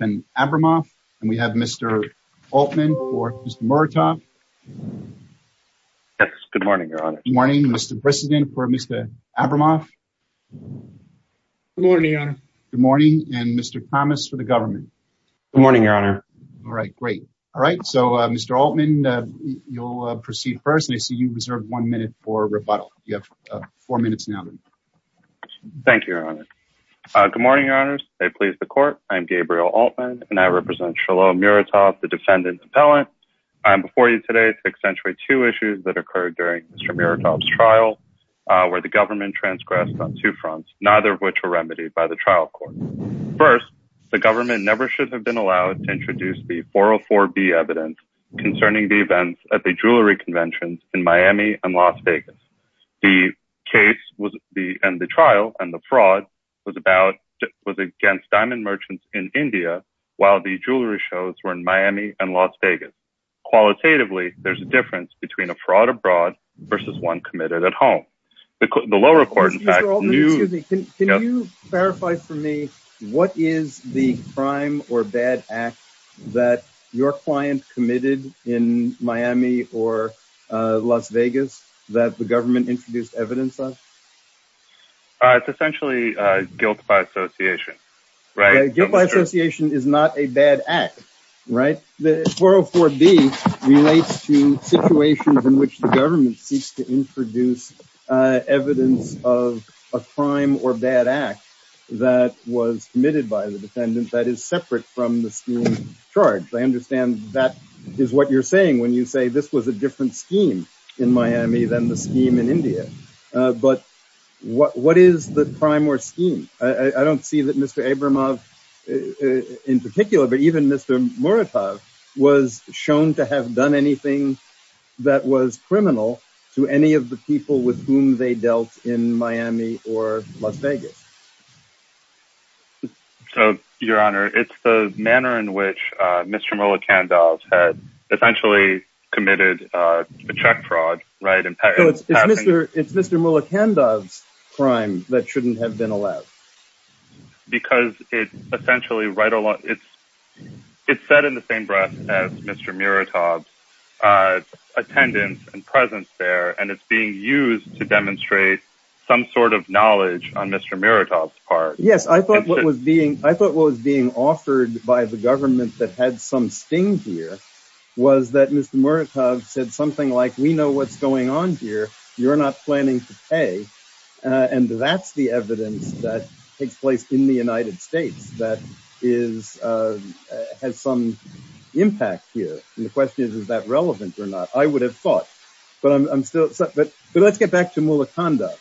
and Abramov. We have Mr. Altman for Mr. Muratov. Good morning, Your Honor. Good morning. Mr. Brissenden for Mr. Abramov. Good morning, Your Honor. Good morning. And Mr. Thomas for the government. Good morning, Your Honor. All right. Great. All right. So, Mr. Altman, you'll proceed first. I see you reserved one minute for rebuttal. You have four minutes now. Thank you, Your Honor. Good morning, Your Honors. I please the court. I'm Gabriel Altman, and I represent Shiloh Muratov, the defendant's appellant. I'm before you today to accentuate two issues that occurred during Mr. Muratov's trial, where the government transgressed on two fronts, neither of which were remedied by the trial court. First, the government never should have been allowed to introduce the 404B evidence concerning the events at the jewelry conventions in Miami and Las Vegas. The case and the trial and the fraud was against diamond merchants in India while the jewelry shows were in Miami and Las Vegas. Qualitatively, there's a difference between a fraud abroad versus one committed at home. The lower court, in fact, knew... Excuse me. Can you verify for me what is the Miami or Las Vegas that the government introduced evidence of? It's essentially guilt by association, right? Guilt by association is not a bad act, right? The 404B relates to situations in which the government seeks to introduce evidence of a crime or bad act that was committed by the defendant that is separate from the scheme of charge. I understand that is what you're saying when you say this was a different scheme in Miami than the scheme in India, but what is the prime scheme? I don't see that Mr. Abramov in particular, but even Mr. Muratov was shown to have done anything that was criminal to any of the people with whom they dealt in Miami or Las Vegas. So, your honor, it's the manner in which Mr. Muratov had essentially committed a check fraud, right? So it's Mr. Muratov's crime that shouldn't have been allowed? Because it's essentially right along... It's set in the same breath as Mr. Muratov's attendance and presence there, and it's being used to demonstrate some sort of knowledge on Mr. Muratov's part. Yes, I thought what was being offered by the government that had some sting here was that Mr. Muratov said something like, we know what's going on here, you're not planning to pay. And that's the evidence that takes place in the United States that has some impact here. And the question is, is that relevant or not? I would have thought, but let's get back to Muratov.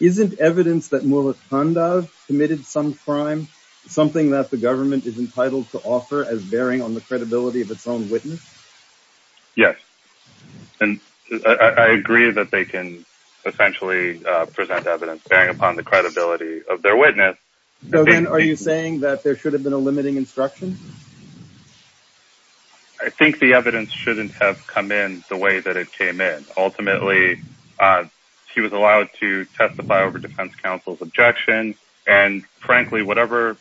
Isn't evidence that Muratov committed some crime, something that the government is entitled to offer as bearing on the credibility of its own witness? Yes, and I agree that they can essentially present evidence bearing upon the credibility of their witness. So then are you saying that there should have been a limiting instruction? I think the evidence shouldn't have come in the way that it came in. Ultimately, he was allowed to testify over defense counsel's objection. And frankly, whatever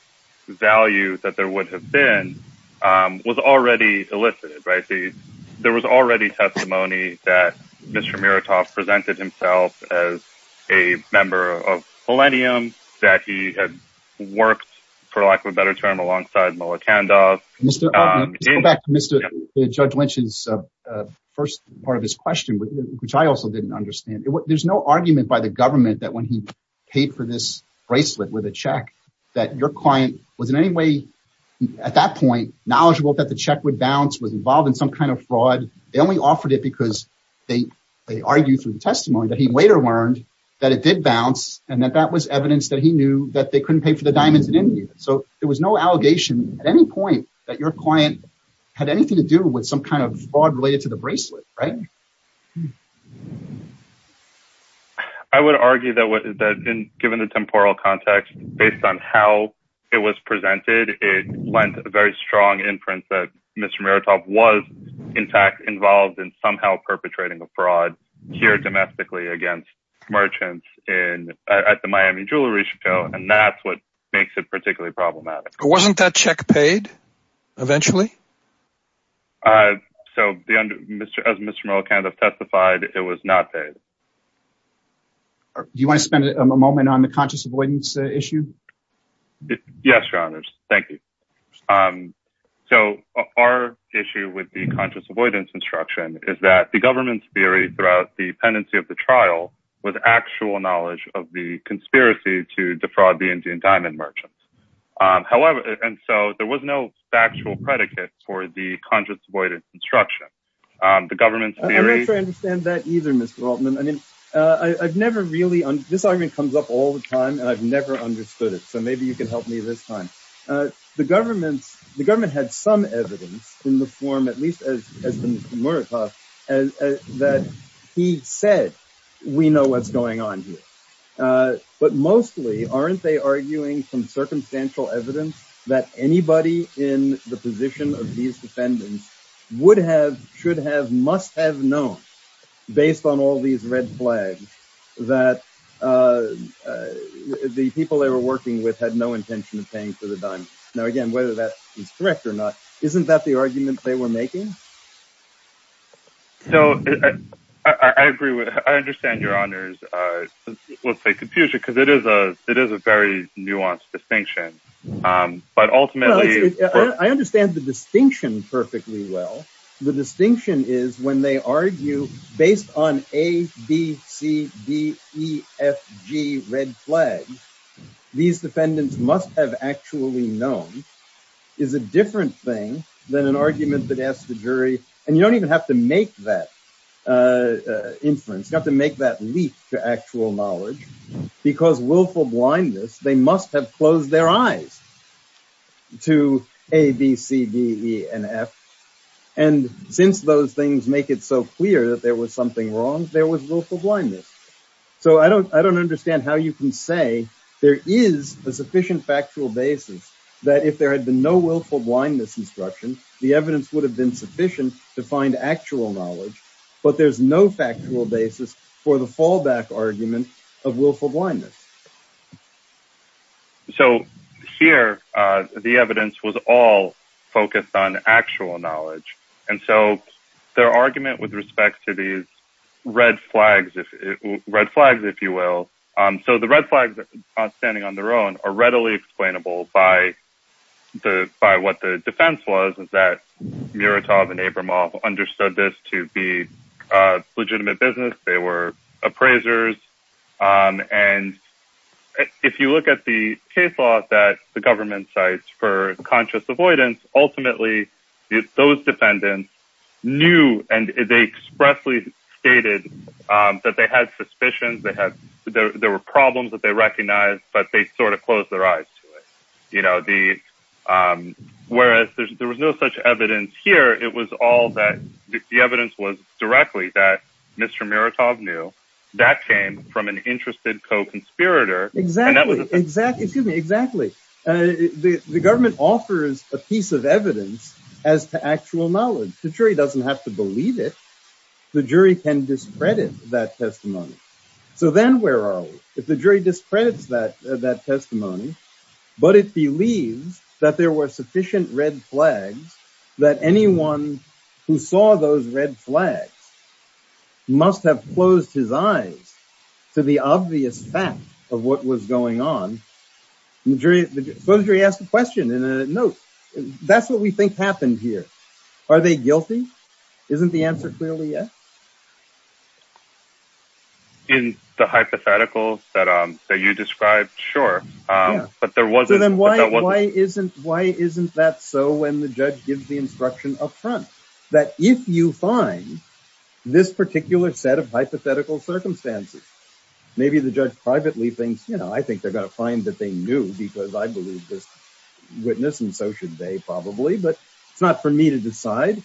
value that there would have been was already elicited, right? There was already testimony that Mr. Muratov presented himself as a member of Millennium, that he had worked, for lack of a better term, alongside Mullah Kandas. Let's go back to Judge Lynch's first part of his question, which I also didn't understand. There's no argument by the government that when he paid for this bracelet with a check, that your client was in any way, at that point, knowledgeable that the check would bounce, was involved in some kind of fraud. They only offered it because they argued through the testimony that he later learned that it did bounce, and that that was evidence that he knew that they couldn't pay for the diamonds in India. So there was no allegation at any point that your client had anything to do with some kind of fraud related to the bracelet, right? I would argue that given the temporal context, based on how it was presented, it lends a very strong inference that Mr. Muratov was, in fact, involved in somehow perpetrating a fraud here domestically against merchants at the Miami Jewelry Show, and that's what makes it particularly problematic. Wasn't that check paid, eventually? So, as Mr. Muratov testified, it was not paid. Do you want to spend a moment on the conscious avoidance issue? Yes, your honors. Thank you. So our issue with the conscious avoidance instruction is that the government's theory throughout the pendency of the trial was actual knowledge of the conspiracy to defraud the Indian diamond merchants. However, and so there was no factual predicate for the conscious avoidance instruction. The government's theory... I'm not sure I understand that either, Mr. Altman. I mean, I've never really... This argument comes up all the time and I've never understood it, so maybe you can help me this time. The government had some evidence in the form, at least as Mr. Muratov, that he said, we know what's going on here. But mostly, aren't they arguing from circumstantial evidence that anybody in the position of these defendants would have, should have, must have known, based on all these red flags, that the people they were working with had no intention of paying for the diamond. Now, again, whether that is correct or not, isn't that the argument they were making? So I agree with... I understand your honors, let's say confusion, because it is a very nuanced distinction. But ultimately... I understand the distinction perfectly well. The distinction is, when they argue based on A, B, C, D, E, F, G, red flag, these defendants must have actually known, is a different thing than an argument that asks the jury... And you don't even have to make that inference, you have to make that leap to actual knowledge, because willful blindness, they must have closed their eyes to A, B, C, D, E, and F. And since those things make it so clear that there was something wrong, there was willful blindness. So I don't understand how you can say there is a sufficient factual basis that if there had been no willful blindness instruction, the evidence would have been sufficient to find actual knowledge. But there's no factual basis for the fallback argument of willful blindness. So here, the evidence was all focused on actual knowledge. And so their argument with respect to these red flags, if you will... So the red flags, standing on their own, are readily explainable by what the defense was, that Muratov and Abramov understood this to be legitimate business, they were appraisers. And if you look at the case law that the government cites for conscious avoidance, ultimately, those defendants knew, and they expressly stated that they had suspicions, there were problems that they recognized, but they sort of closed their eyes to it. Whereas there was no such evidence here, it was all that the evidence was directly that Mr. Muratov knew, that came from an interested co-conspirator. Exactly. The government offers a piece of evidence as to actual knowledge. The jury doesn't have to believe it. The jury can discredit that testimony. So then where are we? If the jury discredits that testimony, but it believes that there were sufficient red flags, that anyone who saw those red flags must have closed his eyes to the obvious fact of what was going on. Supposedly he asked a question in a note. That's what we think happened here. Are they guilty? Isn't the answer clearly yes? In the hypothetical that you described, sure, but there wasn't... Why isn't that so when the judge gives the instruction up front? That if you find this particular set of hypothetical circumstances, maybe the judge privately thinks, you know, I think they're going to find that they knew because I believe this witness and so should they probably, but it's not for me to decide.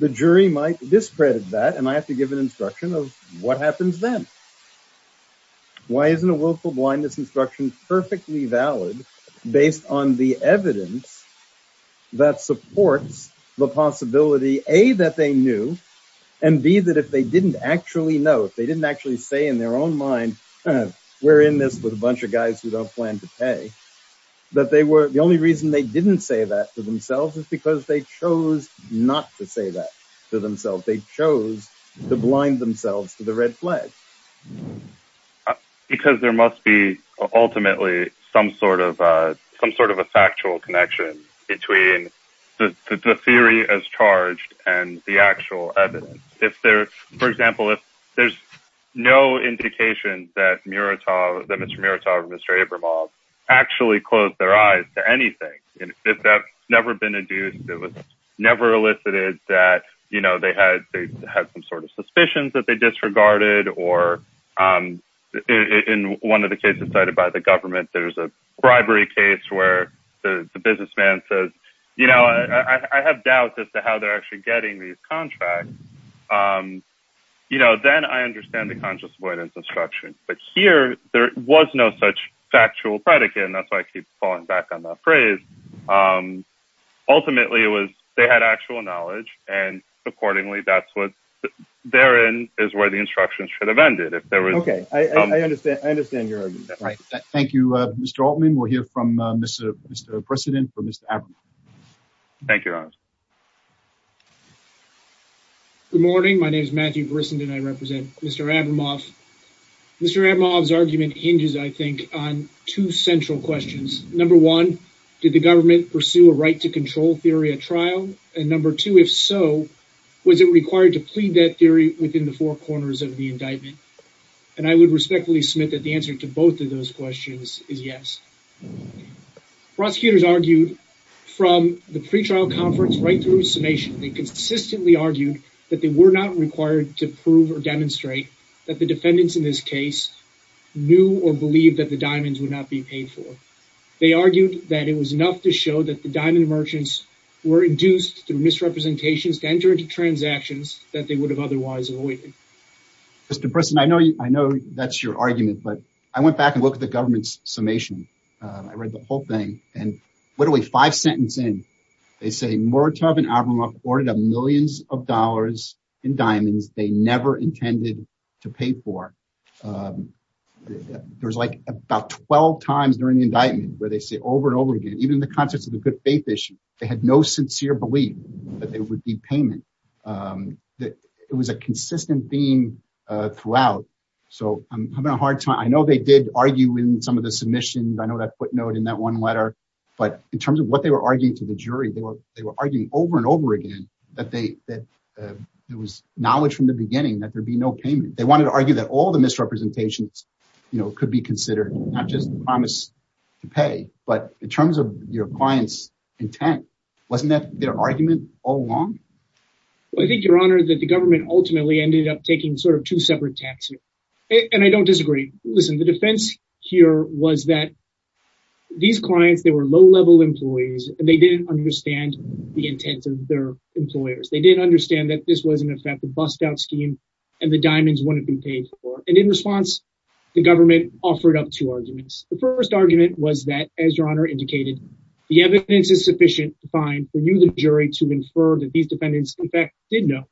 The jury might discredit that, and I have to give an instruction of what happens then. Why isn't a willful blindness instruction perfectly valid based on the evidence that supports the possibility, A, that they knew, and B, that if they didn't actually know, if they didn't actually say in their own mind, we're in this with a bunch of guys who don't plan to pay, that the only reason they didn't say that to themselves is because they chose not to say that to themselves. They chose to blind themselves to the red flag. Because there must be ultimately some sort of a factual connection between the theory as charged and the actual evidence. If there, for example, if there's no indication that Mr. Muratov and Mr. Abramov actually closed their eyes to anything, if that's never been regarded, or in one of the cases cited by the government, there's a bribery case where the businessman says, you know, I have doubts as to how they're actually getting these contracts. You know, then I understand the conscious avoidance instruction. But here, there was no such factual predicate, and that's why I keep falling back on that phrase. Ultimately, it was actual knowledge. And accordingly, that's what they're in is where the instructions should have ended if there was. Okay, I understand. I understand your right. Thank you, Mr. Altman. We'll hear from Mr. President for Mr. Abramov. Thank you. Good morning. My name is Matthew Brissenden. I represent Mr. Abramov. Mr. Abramov's argument hinges, I think, on two central questions. Number one, did the government pursue a right to control theory at trial? And number two, if so, was it required to plead that theory within the four corners of the indictment? And I would respectfully submit that the answer to both of those questions is yes. Prosecutors argued from the pretrial conference right through summation, they consistently argued that they were not required to prove or demonstrate that the defendants in this case knew or believed that the diamonds would not be paid for. They argued that it was enough to were induced through misrepresentations to enter into transactions that they would have otherwise avoided. Mr. Brissenden, I know that's your argument, but I went back and looked at the government's summation. I read the whole thing, and literally five sentences in, they say Muratov and Abramov ordered millions of dollars in diamonds they never intended to pay for. There's like about 12 times during the indictment where they say over and over again, even in the good faith issue, they had no sincere belief that there would be payment. It was a consistent theme throughout, so I'm having a hard time. I know they did argue in some of the submissions. I know that footnote in that one letter, but in terms of what they were arguing to the jury, they were arguing over and over again that there was knowledge from the beginning that there'd be no payment. They wanted to argue that all the misrepresentations could be considered, not just the promise to pay, but in terms of your client's intent. Wasn't that their argument all along? I think, your honor, that the government ultimately ended up taking sort of two separate taxes, and I don't disagree. Listen, the defense here was that these clients, they were low-level employees, and they didn't understand the intent of their employers. They didn't understand that this was, in effect, a bust-out scheme, and the diamonds wouldn't be paid for, and in response, the government offered up two arguments. The first argument was that, as your honor indicated, the evidence is sufficient to find for you, the jury, to infer that these defendants, in fact, did know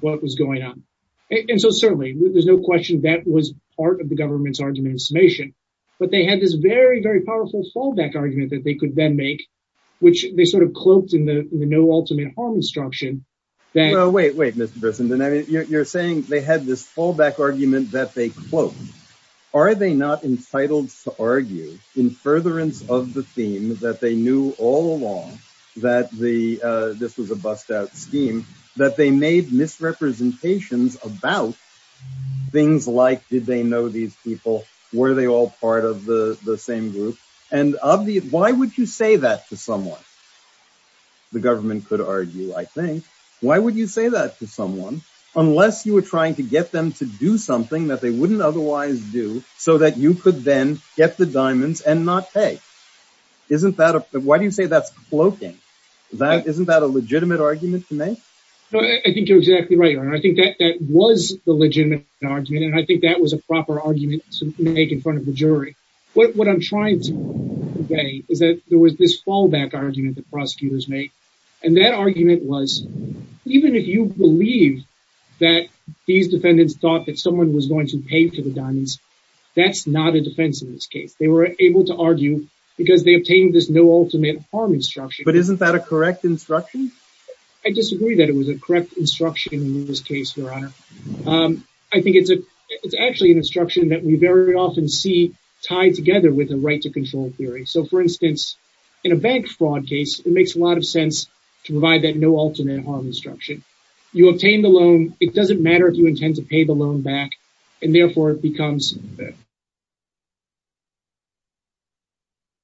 what was going on, and so certainly, there's no question that was part of the government's argument in summation, but they had this very, very powerful fallback argument that they could then make, which they sort of cloaked in the no ultimate harm instruction. Wait, wait, Mr. Brisson. You're saying they had this fallback argument that they cloaked. Are they not entitled to argue, in furtherance of the theme that they knew all along that this was a bust-out scheme, that they made misrepresentations about things like, did they know these people, were they all part of the same group, and why would you say that to someone? The government could argue, I think, why would you say that to someone, unless you were trying to get them to do something that they wouldn't otherwise do, so that you could then get the diamonds and not pay. Isn't that, why do you say that's cloaking? Isn't that a legitimate argument to make? No, I think you're exactly right, your honor. I think that that was the legitimate argument, and I think that was a proper argument to make in front of the jury. What I'm trying to say is that there was this fallback argument that prosecutors made, and that argument was, even if you believe that these defendants thought that someone was going to pay for the diamonds, that's not a defense in this case. They were able to argue because they obtained this no ultimate harm instruction. But isn't that a correct instruction? I disagree that it was a correct instruction in this case, your honor. I think it's actually an with a right to control theory. So, for instance, in a bank fraud case, it makes a lot of sense to provide that no ultimate harm instruction. You obtain the loan, it doesn't matter if you intend to pay the loan back, and therefore it becomes a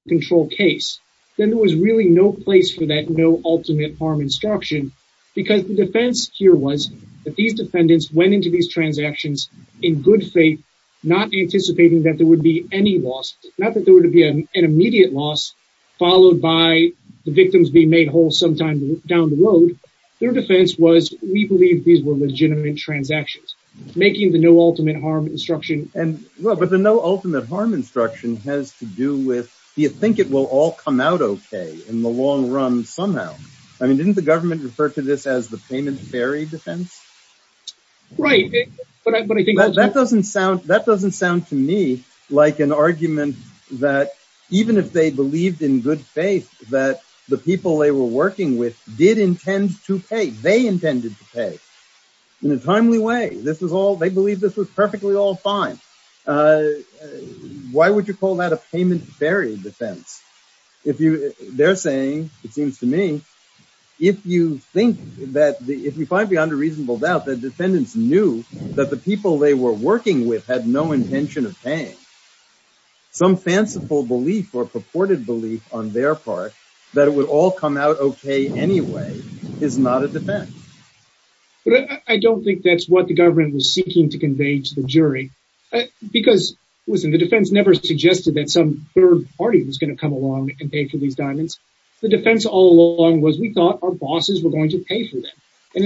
control case. Then there was really no place for that no ultimate harm instruction, because the defense here was that these defendants went into these transactions in good faith, not anticipating that there would be any loss, not that there would be an immediate loss, followed by the victims being made whole sometime down the road. Their defense was, we believe these were legitimate transactions, making the no ultimate harm instruction. But the no ultimate harm instruction has to do with, do you think it will all come out okay in the long run somehow? I mean, didn't the government refer to this as the payment ferry defense? Right. That doesn't sound to me like an argument that even if they believed in good faith that the people they were working with did intend to pay, they intended to pay in a timely way. This was all, they believed this was perfectly all fine. Why would you call that a payment ferry defense? They're saying, it seems to me, if you find beyond a reasonable doubt that defendants knew that the people they were working with had no intention of paying, some fanciful belief or purported belief on their part that it would all come out okay anyway is not a defense. But I don't think that's what the government was seeking to convey to the jury. Because listen, the defense never suggested that some third party was going to come along and pay for these diamonds. The defense all along was we thought our bosses were going to pay for them.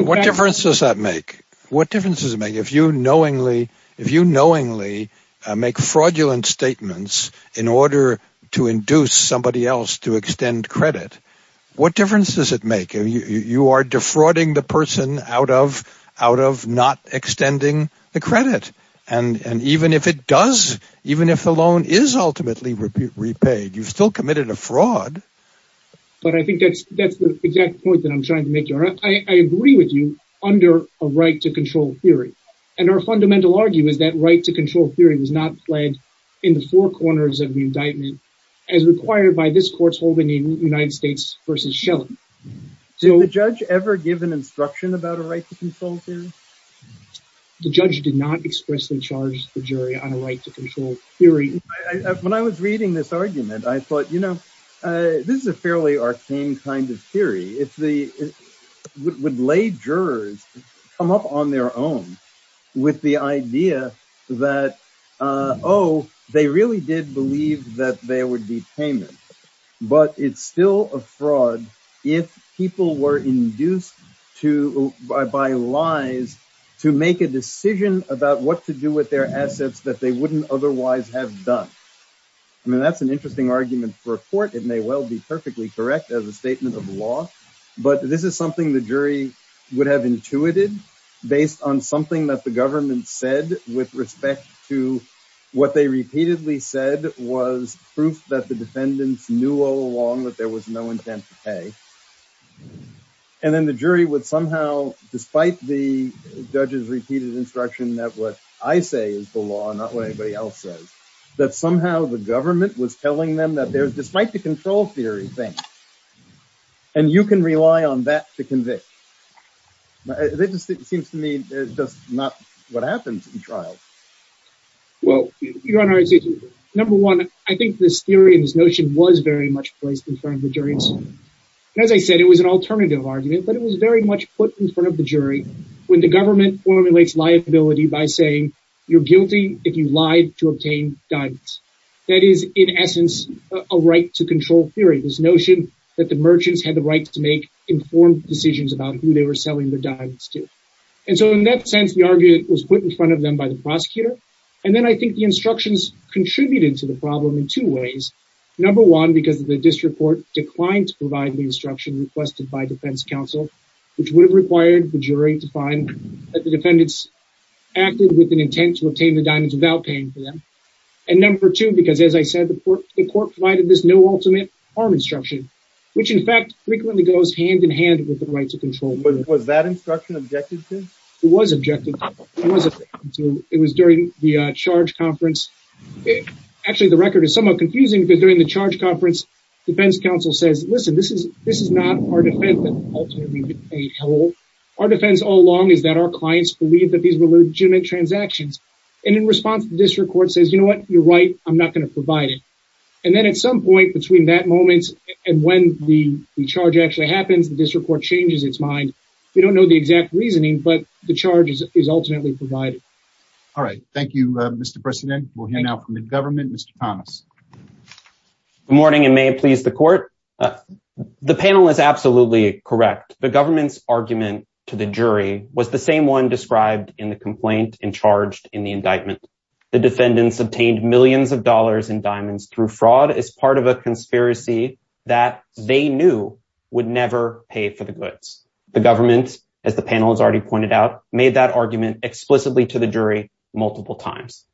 What difference does that make? What difference does it make if you knowingly make fraudulent statements in order to induce somebody else to extend credit? What difference does it make? You are defrauding the person out of not extending the credit. And even if it does, even if the loan is ultimately repaid, you've still committed a fraud. But I think that's the exact point that I'm trying to make here. I agree with you under a right to control theory. And our fundamental argument is that right to control theory was not flagged in the four corners of the indictment as required by this court's holding in United States versus Shelling. Did the judge ever give an instruction about a right to control theory? The judge did not expressly charge the jury on a right to control theory. When I was reading this argument, I thought, you know, this is a fairly arcane kind of theory. It's the would lay jurors come up on their own with the idea that, oh, they really did believe that there would be payment. But it's still a fraud if people were induced to buy lies to make a decision about what to do with their assets that they wouldn't otherwise have done. I mean, that's an interesting argument for a court. It may well be perfectly correct as a statement of law. But this is something the jury would have intuited based on something that the government said with respect to what they repeatedly said was proof that the defendants knew all along that there was no intent to pay. And then the jury would somehow, despite the judge's repeated instruction that what I say is the law, not what anybody else says, that somehow the government was telling them that there's despite the control theory thing. And you can rely on that to convict. It just seems to me just not what happens in trial. Well, Your Honor, number one, I think this theory and this notion was very much placed in front of the jury. And as I said, it was an alternative argument, but it was very much put in front of the jury when the government formulates liability by saying you're guilty if you lied to obtain diamonds. That is, in essence, a right to control theory, this notion that the merchants had the right to make informed decisions about who they were selling the diamonds to. And so in that sense, the argument was put in front of them by the prosecutor. And then I think the instructions contributed to the problem in two ways. Number one, because the district court declined to provide the instruction requested by defense counsel, which would have required the jury to find that the defendants acted with an intent to obtain the diamonds without paying for them. And number two, because, as I said, the court provided this no ultimate harm instruction, which, in fact, frequently goes hand in hand with the right to control. Was that instruction objected to? It was objected to. It was during the charge conference. Actually, the record is somewhat confusing because during the charge conference, defense counsel says, listen, this is not our defense that ultimately paid hell. Our defense all along is that our clients believe that these were legitimate transactions. And in response, the district court says, you know what, you're right, I'm not going to provide it. And then at some point between that moment and when the charge actually happens, the district court changes its mind. We don't know the exact reasoning, but the charge is ultimately provided. All right. Thank you, Mr. President. We'll hear now from the government. Mr. Thomas. Good morning and may it please the court. The panel is absolutely correct. The government's argument to the jury was the same one described in the complaint and charged in the indictment. The defendants obtained millions of dollars in The government, as the panel has already pointed out, made that argument explicitly to the jury multiple times.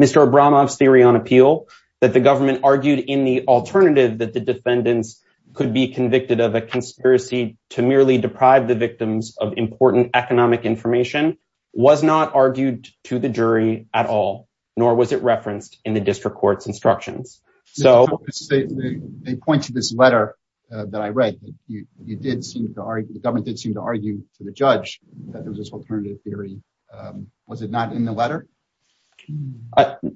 Mr. Abramov's theory on appeal that the government argued in the alternative that the defendants could be convicted of a conspiracy to merely deprive the victims of important economic information was not argued to the jury at all, nor was it referenced in district court's instructions. Mr. Thomas, they point to this letter that I read. The government did seem to argue to the judge that there was this alternative theory. Was it not in the letter?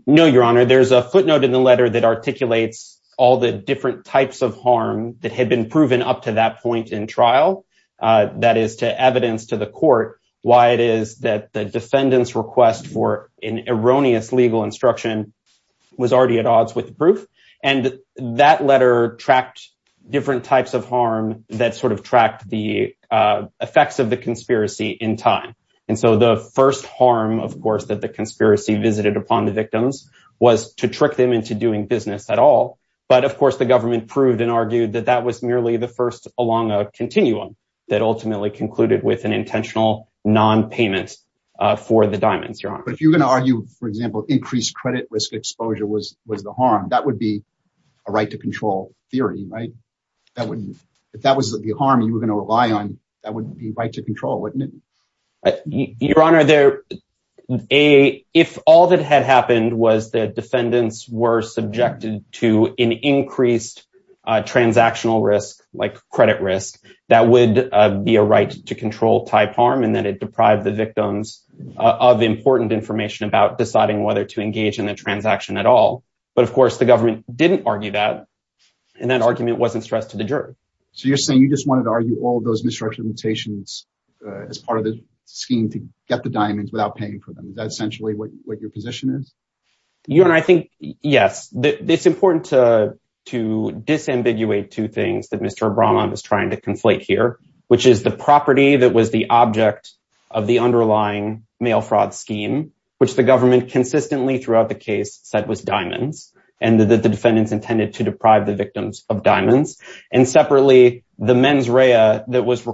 No, Your Honor. There's a footnote in the letter that articulates all the different types of harm that had been proven up to that point in trial, that is to evidence to the court why it is that the defendant's request for an erroneous legal instruction was already at odds with the proof. And that letter tracked different types of harm that sort of tracked the effects of the conspiracy in time. And so the first harm, of course, that the conspiracy visited upon the victims was to trick them into doing business at all. But, of course, the government proved and argued that that was merely the first along a continuum that ultimately concluded with an intentional non-payment for the diamonds, but if you're going to argue, for example, increased credit risk exposure was the harm, that would be a right to control theory, right? If that was the harm you were going to rely on, that would be right to control, wouldn't it? Your Honor, if all that had happened was that defendants were subjected to an increased transactional risk, like credit risk, that would be a right to control type harm, and then it deprived the victims of important information about deciding whether to engage in the transaction at all. But, of course, the government didn't argue that, and that argument wasn't stressed to the jury. So you're saying you just wanted to argue all those misrepresentations as part of the scheme to get the diamonds without paying for them. Is that essentially what your position is? Your Honor, I think, yes, it's important to disambiguate two things that which is the property that was the object of the underlying mail fraud scheme, which the government consistently throughout the case said was diamonds, and that the defendants intended to deprive the victims of diamonds, and separately, the mens rea that was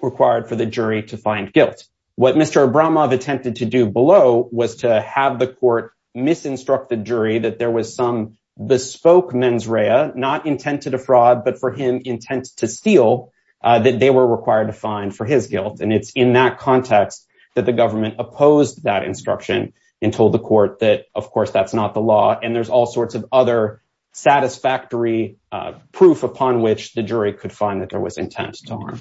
required for the jury to find guilt. What Mr. Abramov attempted to do below was to have the court misinstruct the jury that there was some bespoke mens rea, not intent to defraud, but for him intent to steal, that they were required to find for his guilt. And it's in that context that the government opposed that instruction and told the court that, of course, that's not the law, and there's all sorts of other satisfactory proof upon which the jury could find that there was intent to harm.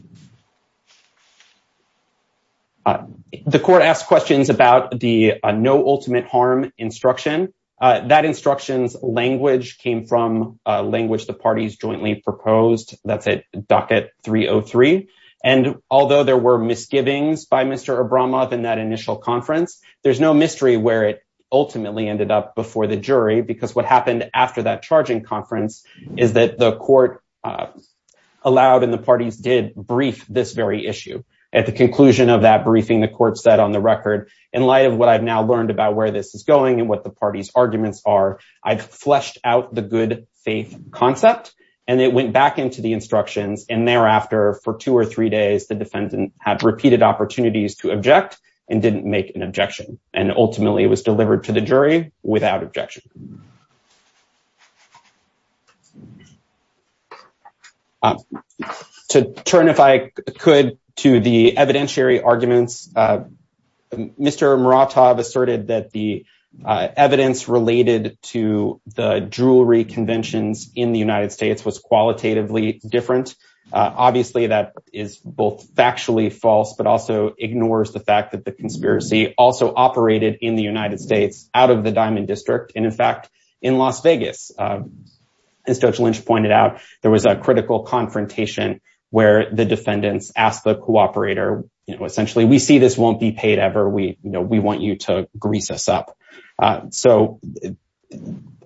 The court asked questions about the no ultimate harm instruction. That instruction's language came from language the parties jointly proposed. That's at docket 303. And although there were misgivings by Mr. Abramov in that initial conference, there's no mystery where it ultimately ended up before the jury, because what happened after that charging conference is that the court allowed and the parties did brief this very issue. At the conclusion of that briefing, the court said on the record, in light of what I've now learned about where this is going and what the party's arguments are, I've fleshed out the good faith concept. And it went back into the instructions. And thereafter, for two or three days, the defendant had repeated opportunities to object and didn't make an objection. And ultimately, it was delivered to the jury without objection. To turn, if I could, to the evidentiary arguments, Mr. Muratov asserted that the evidence related to the jewelry conventions in the United States was qualitatively different. Obviously, that is both factually false, but also ignores the fact that the conspiracy also operated in the United States out of the Diamond District, and in fact, in Las Vegas. As Judge Lynch pointed out, there was a critical confrontation where the defendants asked the cooperator, essentially, we see this won't be paid ever, we want you to grease us up. So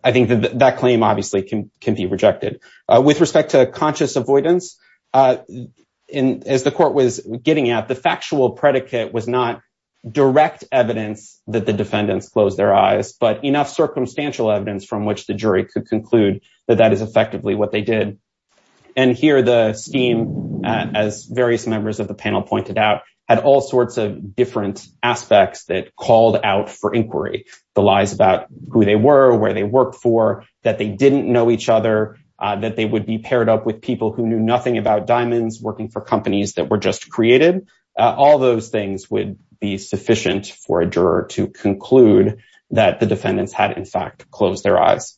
I think that that claim obviously can be rejected. With respect to conscious avoidance, as the court was getting at, the factual predicate was not direct evidence that the defendants closed their eyes, but enough circumstantial evidence from which the jury could conclude that that is effectively what they did. And here, the scheme, as various members of the panel pointed out, had all sorts of different aspects that called out for inquiry, the lies about who they were, where they worked for, that they didn't know each other, that they would be paired up with people who knew nothing about diamonds working for companies that were just created. All those things would be sufficient for a juror to conclude that the defendants had, in fact, closed their eyes.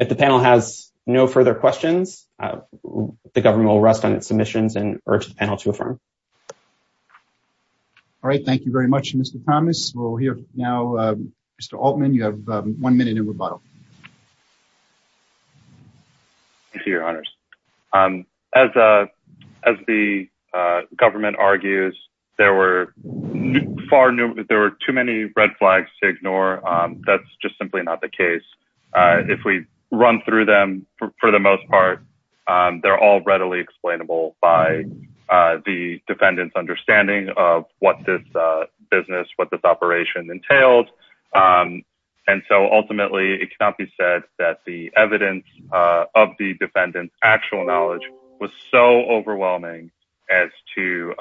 If the panel has no further questions, the government will rest on its submissions and urge the panel to affirm. All right. Thank you very much, Mr. Thomas. We'll hear now, Mr. Altman, you have one minute in rebuttal. Thank you, Your Honors. As the government argues, there were too many red flags to ignore. That's just simply not the case. If we run through them, for the most part, they're all readily explainable by the defendant's understanding of what this business, what this operation entailed. And so ultimately, it cannot be said that the evidence of the defendant's actual knowledge was so overwhelming as to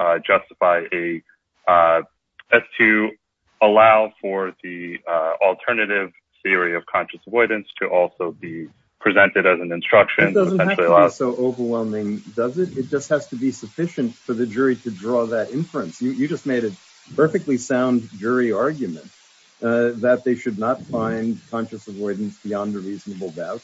allow for the alternative theory of conscious avoidance to also be presented as an instruction. It doesn't have to be so overwhelming, does it? It just has to be sufficient for the jury to draw that inference. You just made a perfectly sound jury argument that they should not find conscious avoidance beyond a reasonable doubt.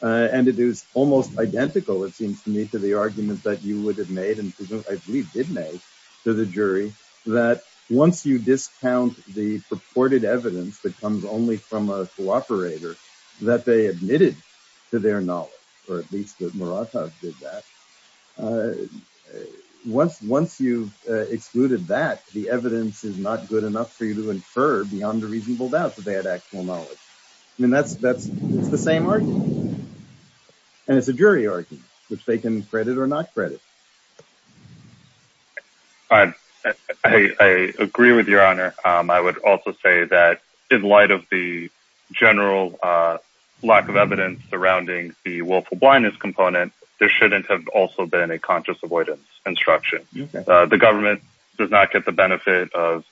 And it is almost identical, it seems to me, to the argument that you would have made and I believe did make to the jury that once you discount the purported evidence that comes only from a cooperator that they admitted to their knowledge, or at least that Muratov did that, once you've not good enough for you to infer beyond a reasonable doubt that they had actual knowledge. I mean, that's the same argument. And it's a jury argument, which they can credit or not credit. I agree with your honor. I would also say that in light of the general lack of evidence surrounding the willful blindness component, there shouldn't have also been a conscious avoidance instruction. The government does not get the benefit of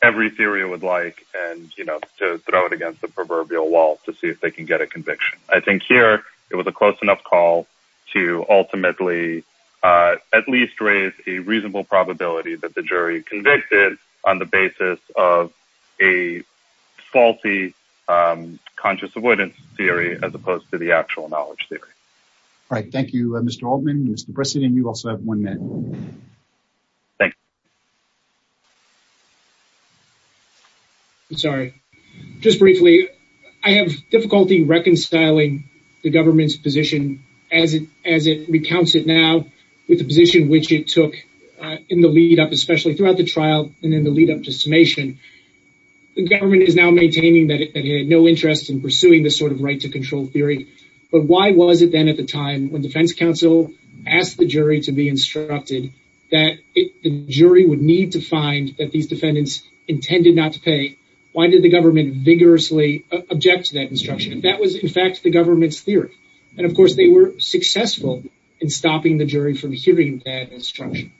every theory it would like and, you know, to throw it against the proverbial wall to see if they can get a conviction. I think here, it was a close enough call to ultimately at least raise a reasonable probability that the jury convicted on the basis of a faulty conscious avoidance theory as opposed to the actual knowledge theory. All right. Thank you, Mr. Altman, Mr. Brissett, and you also have one minute. Thank you. I'm sorry. Just briefly, I have difficulty reconciling the government's position as it recounts it now with the position which it took in the lead up, especially throughout the trial and then the lead up to summation. The government is now maintaining that it had no interest in pursuing this sort of right to control theory, but why was it then at the time when defense counsel asked the jury to be instructed that the jury would need to find that these defendants intended not to pay? Why did the government vigorously object to that instruction? That was, in fact, the government's theory and, of course, they were successful in stopping the jury from hearing that instruction.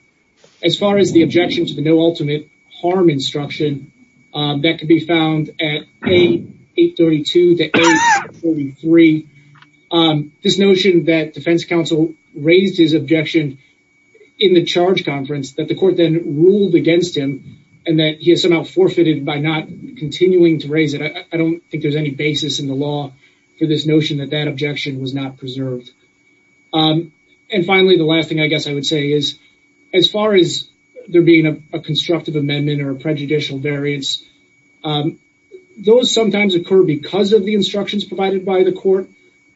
As far as the objection to the no ultimate harm instruction, that could be found at A832 to A843. This notion that defense counsel raised his objection in the charge conference that the court then ruled against him and that he has somehow forfeited by not continuing to raise it, I don't think there's any basis in the law for this notion that that objection was not preserved. And finally, the last thing I guess I would say is as far as there being a constructive amendment or a prejudicial variance, those sometimes occur because of the instructions provided by the court,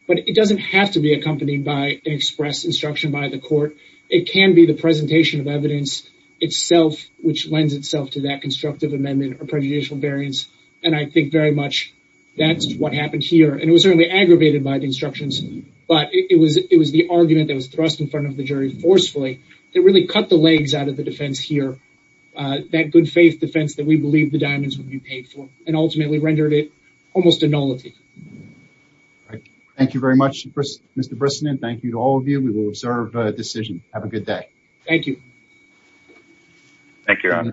but it doesn't have to be accompanied by an express instruction by the court. It can be the presentation of evidence itself which lends itself to that constructive amendment or prejudicial variance, and I think very much that's what happened here. And it was certainly aggravated by the instructions, but it was the argument that forcefully that really cut the legs out of the defense here, that good faith defense that we believe the diamonds would be paid for and ultimately rendered it almost a nullity. Thank you very much, Mr. Brisson, and thank you to all of you. We will observe decision. Have a good day. Thank you. Thank you, Your Honor.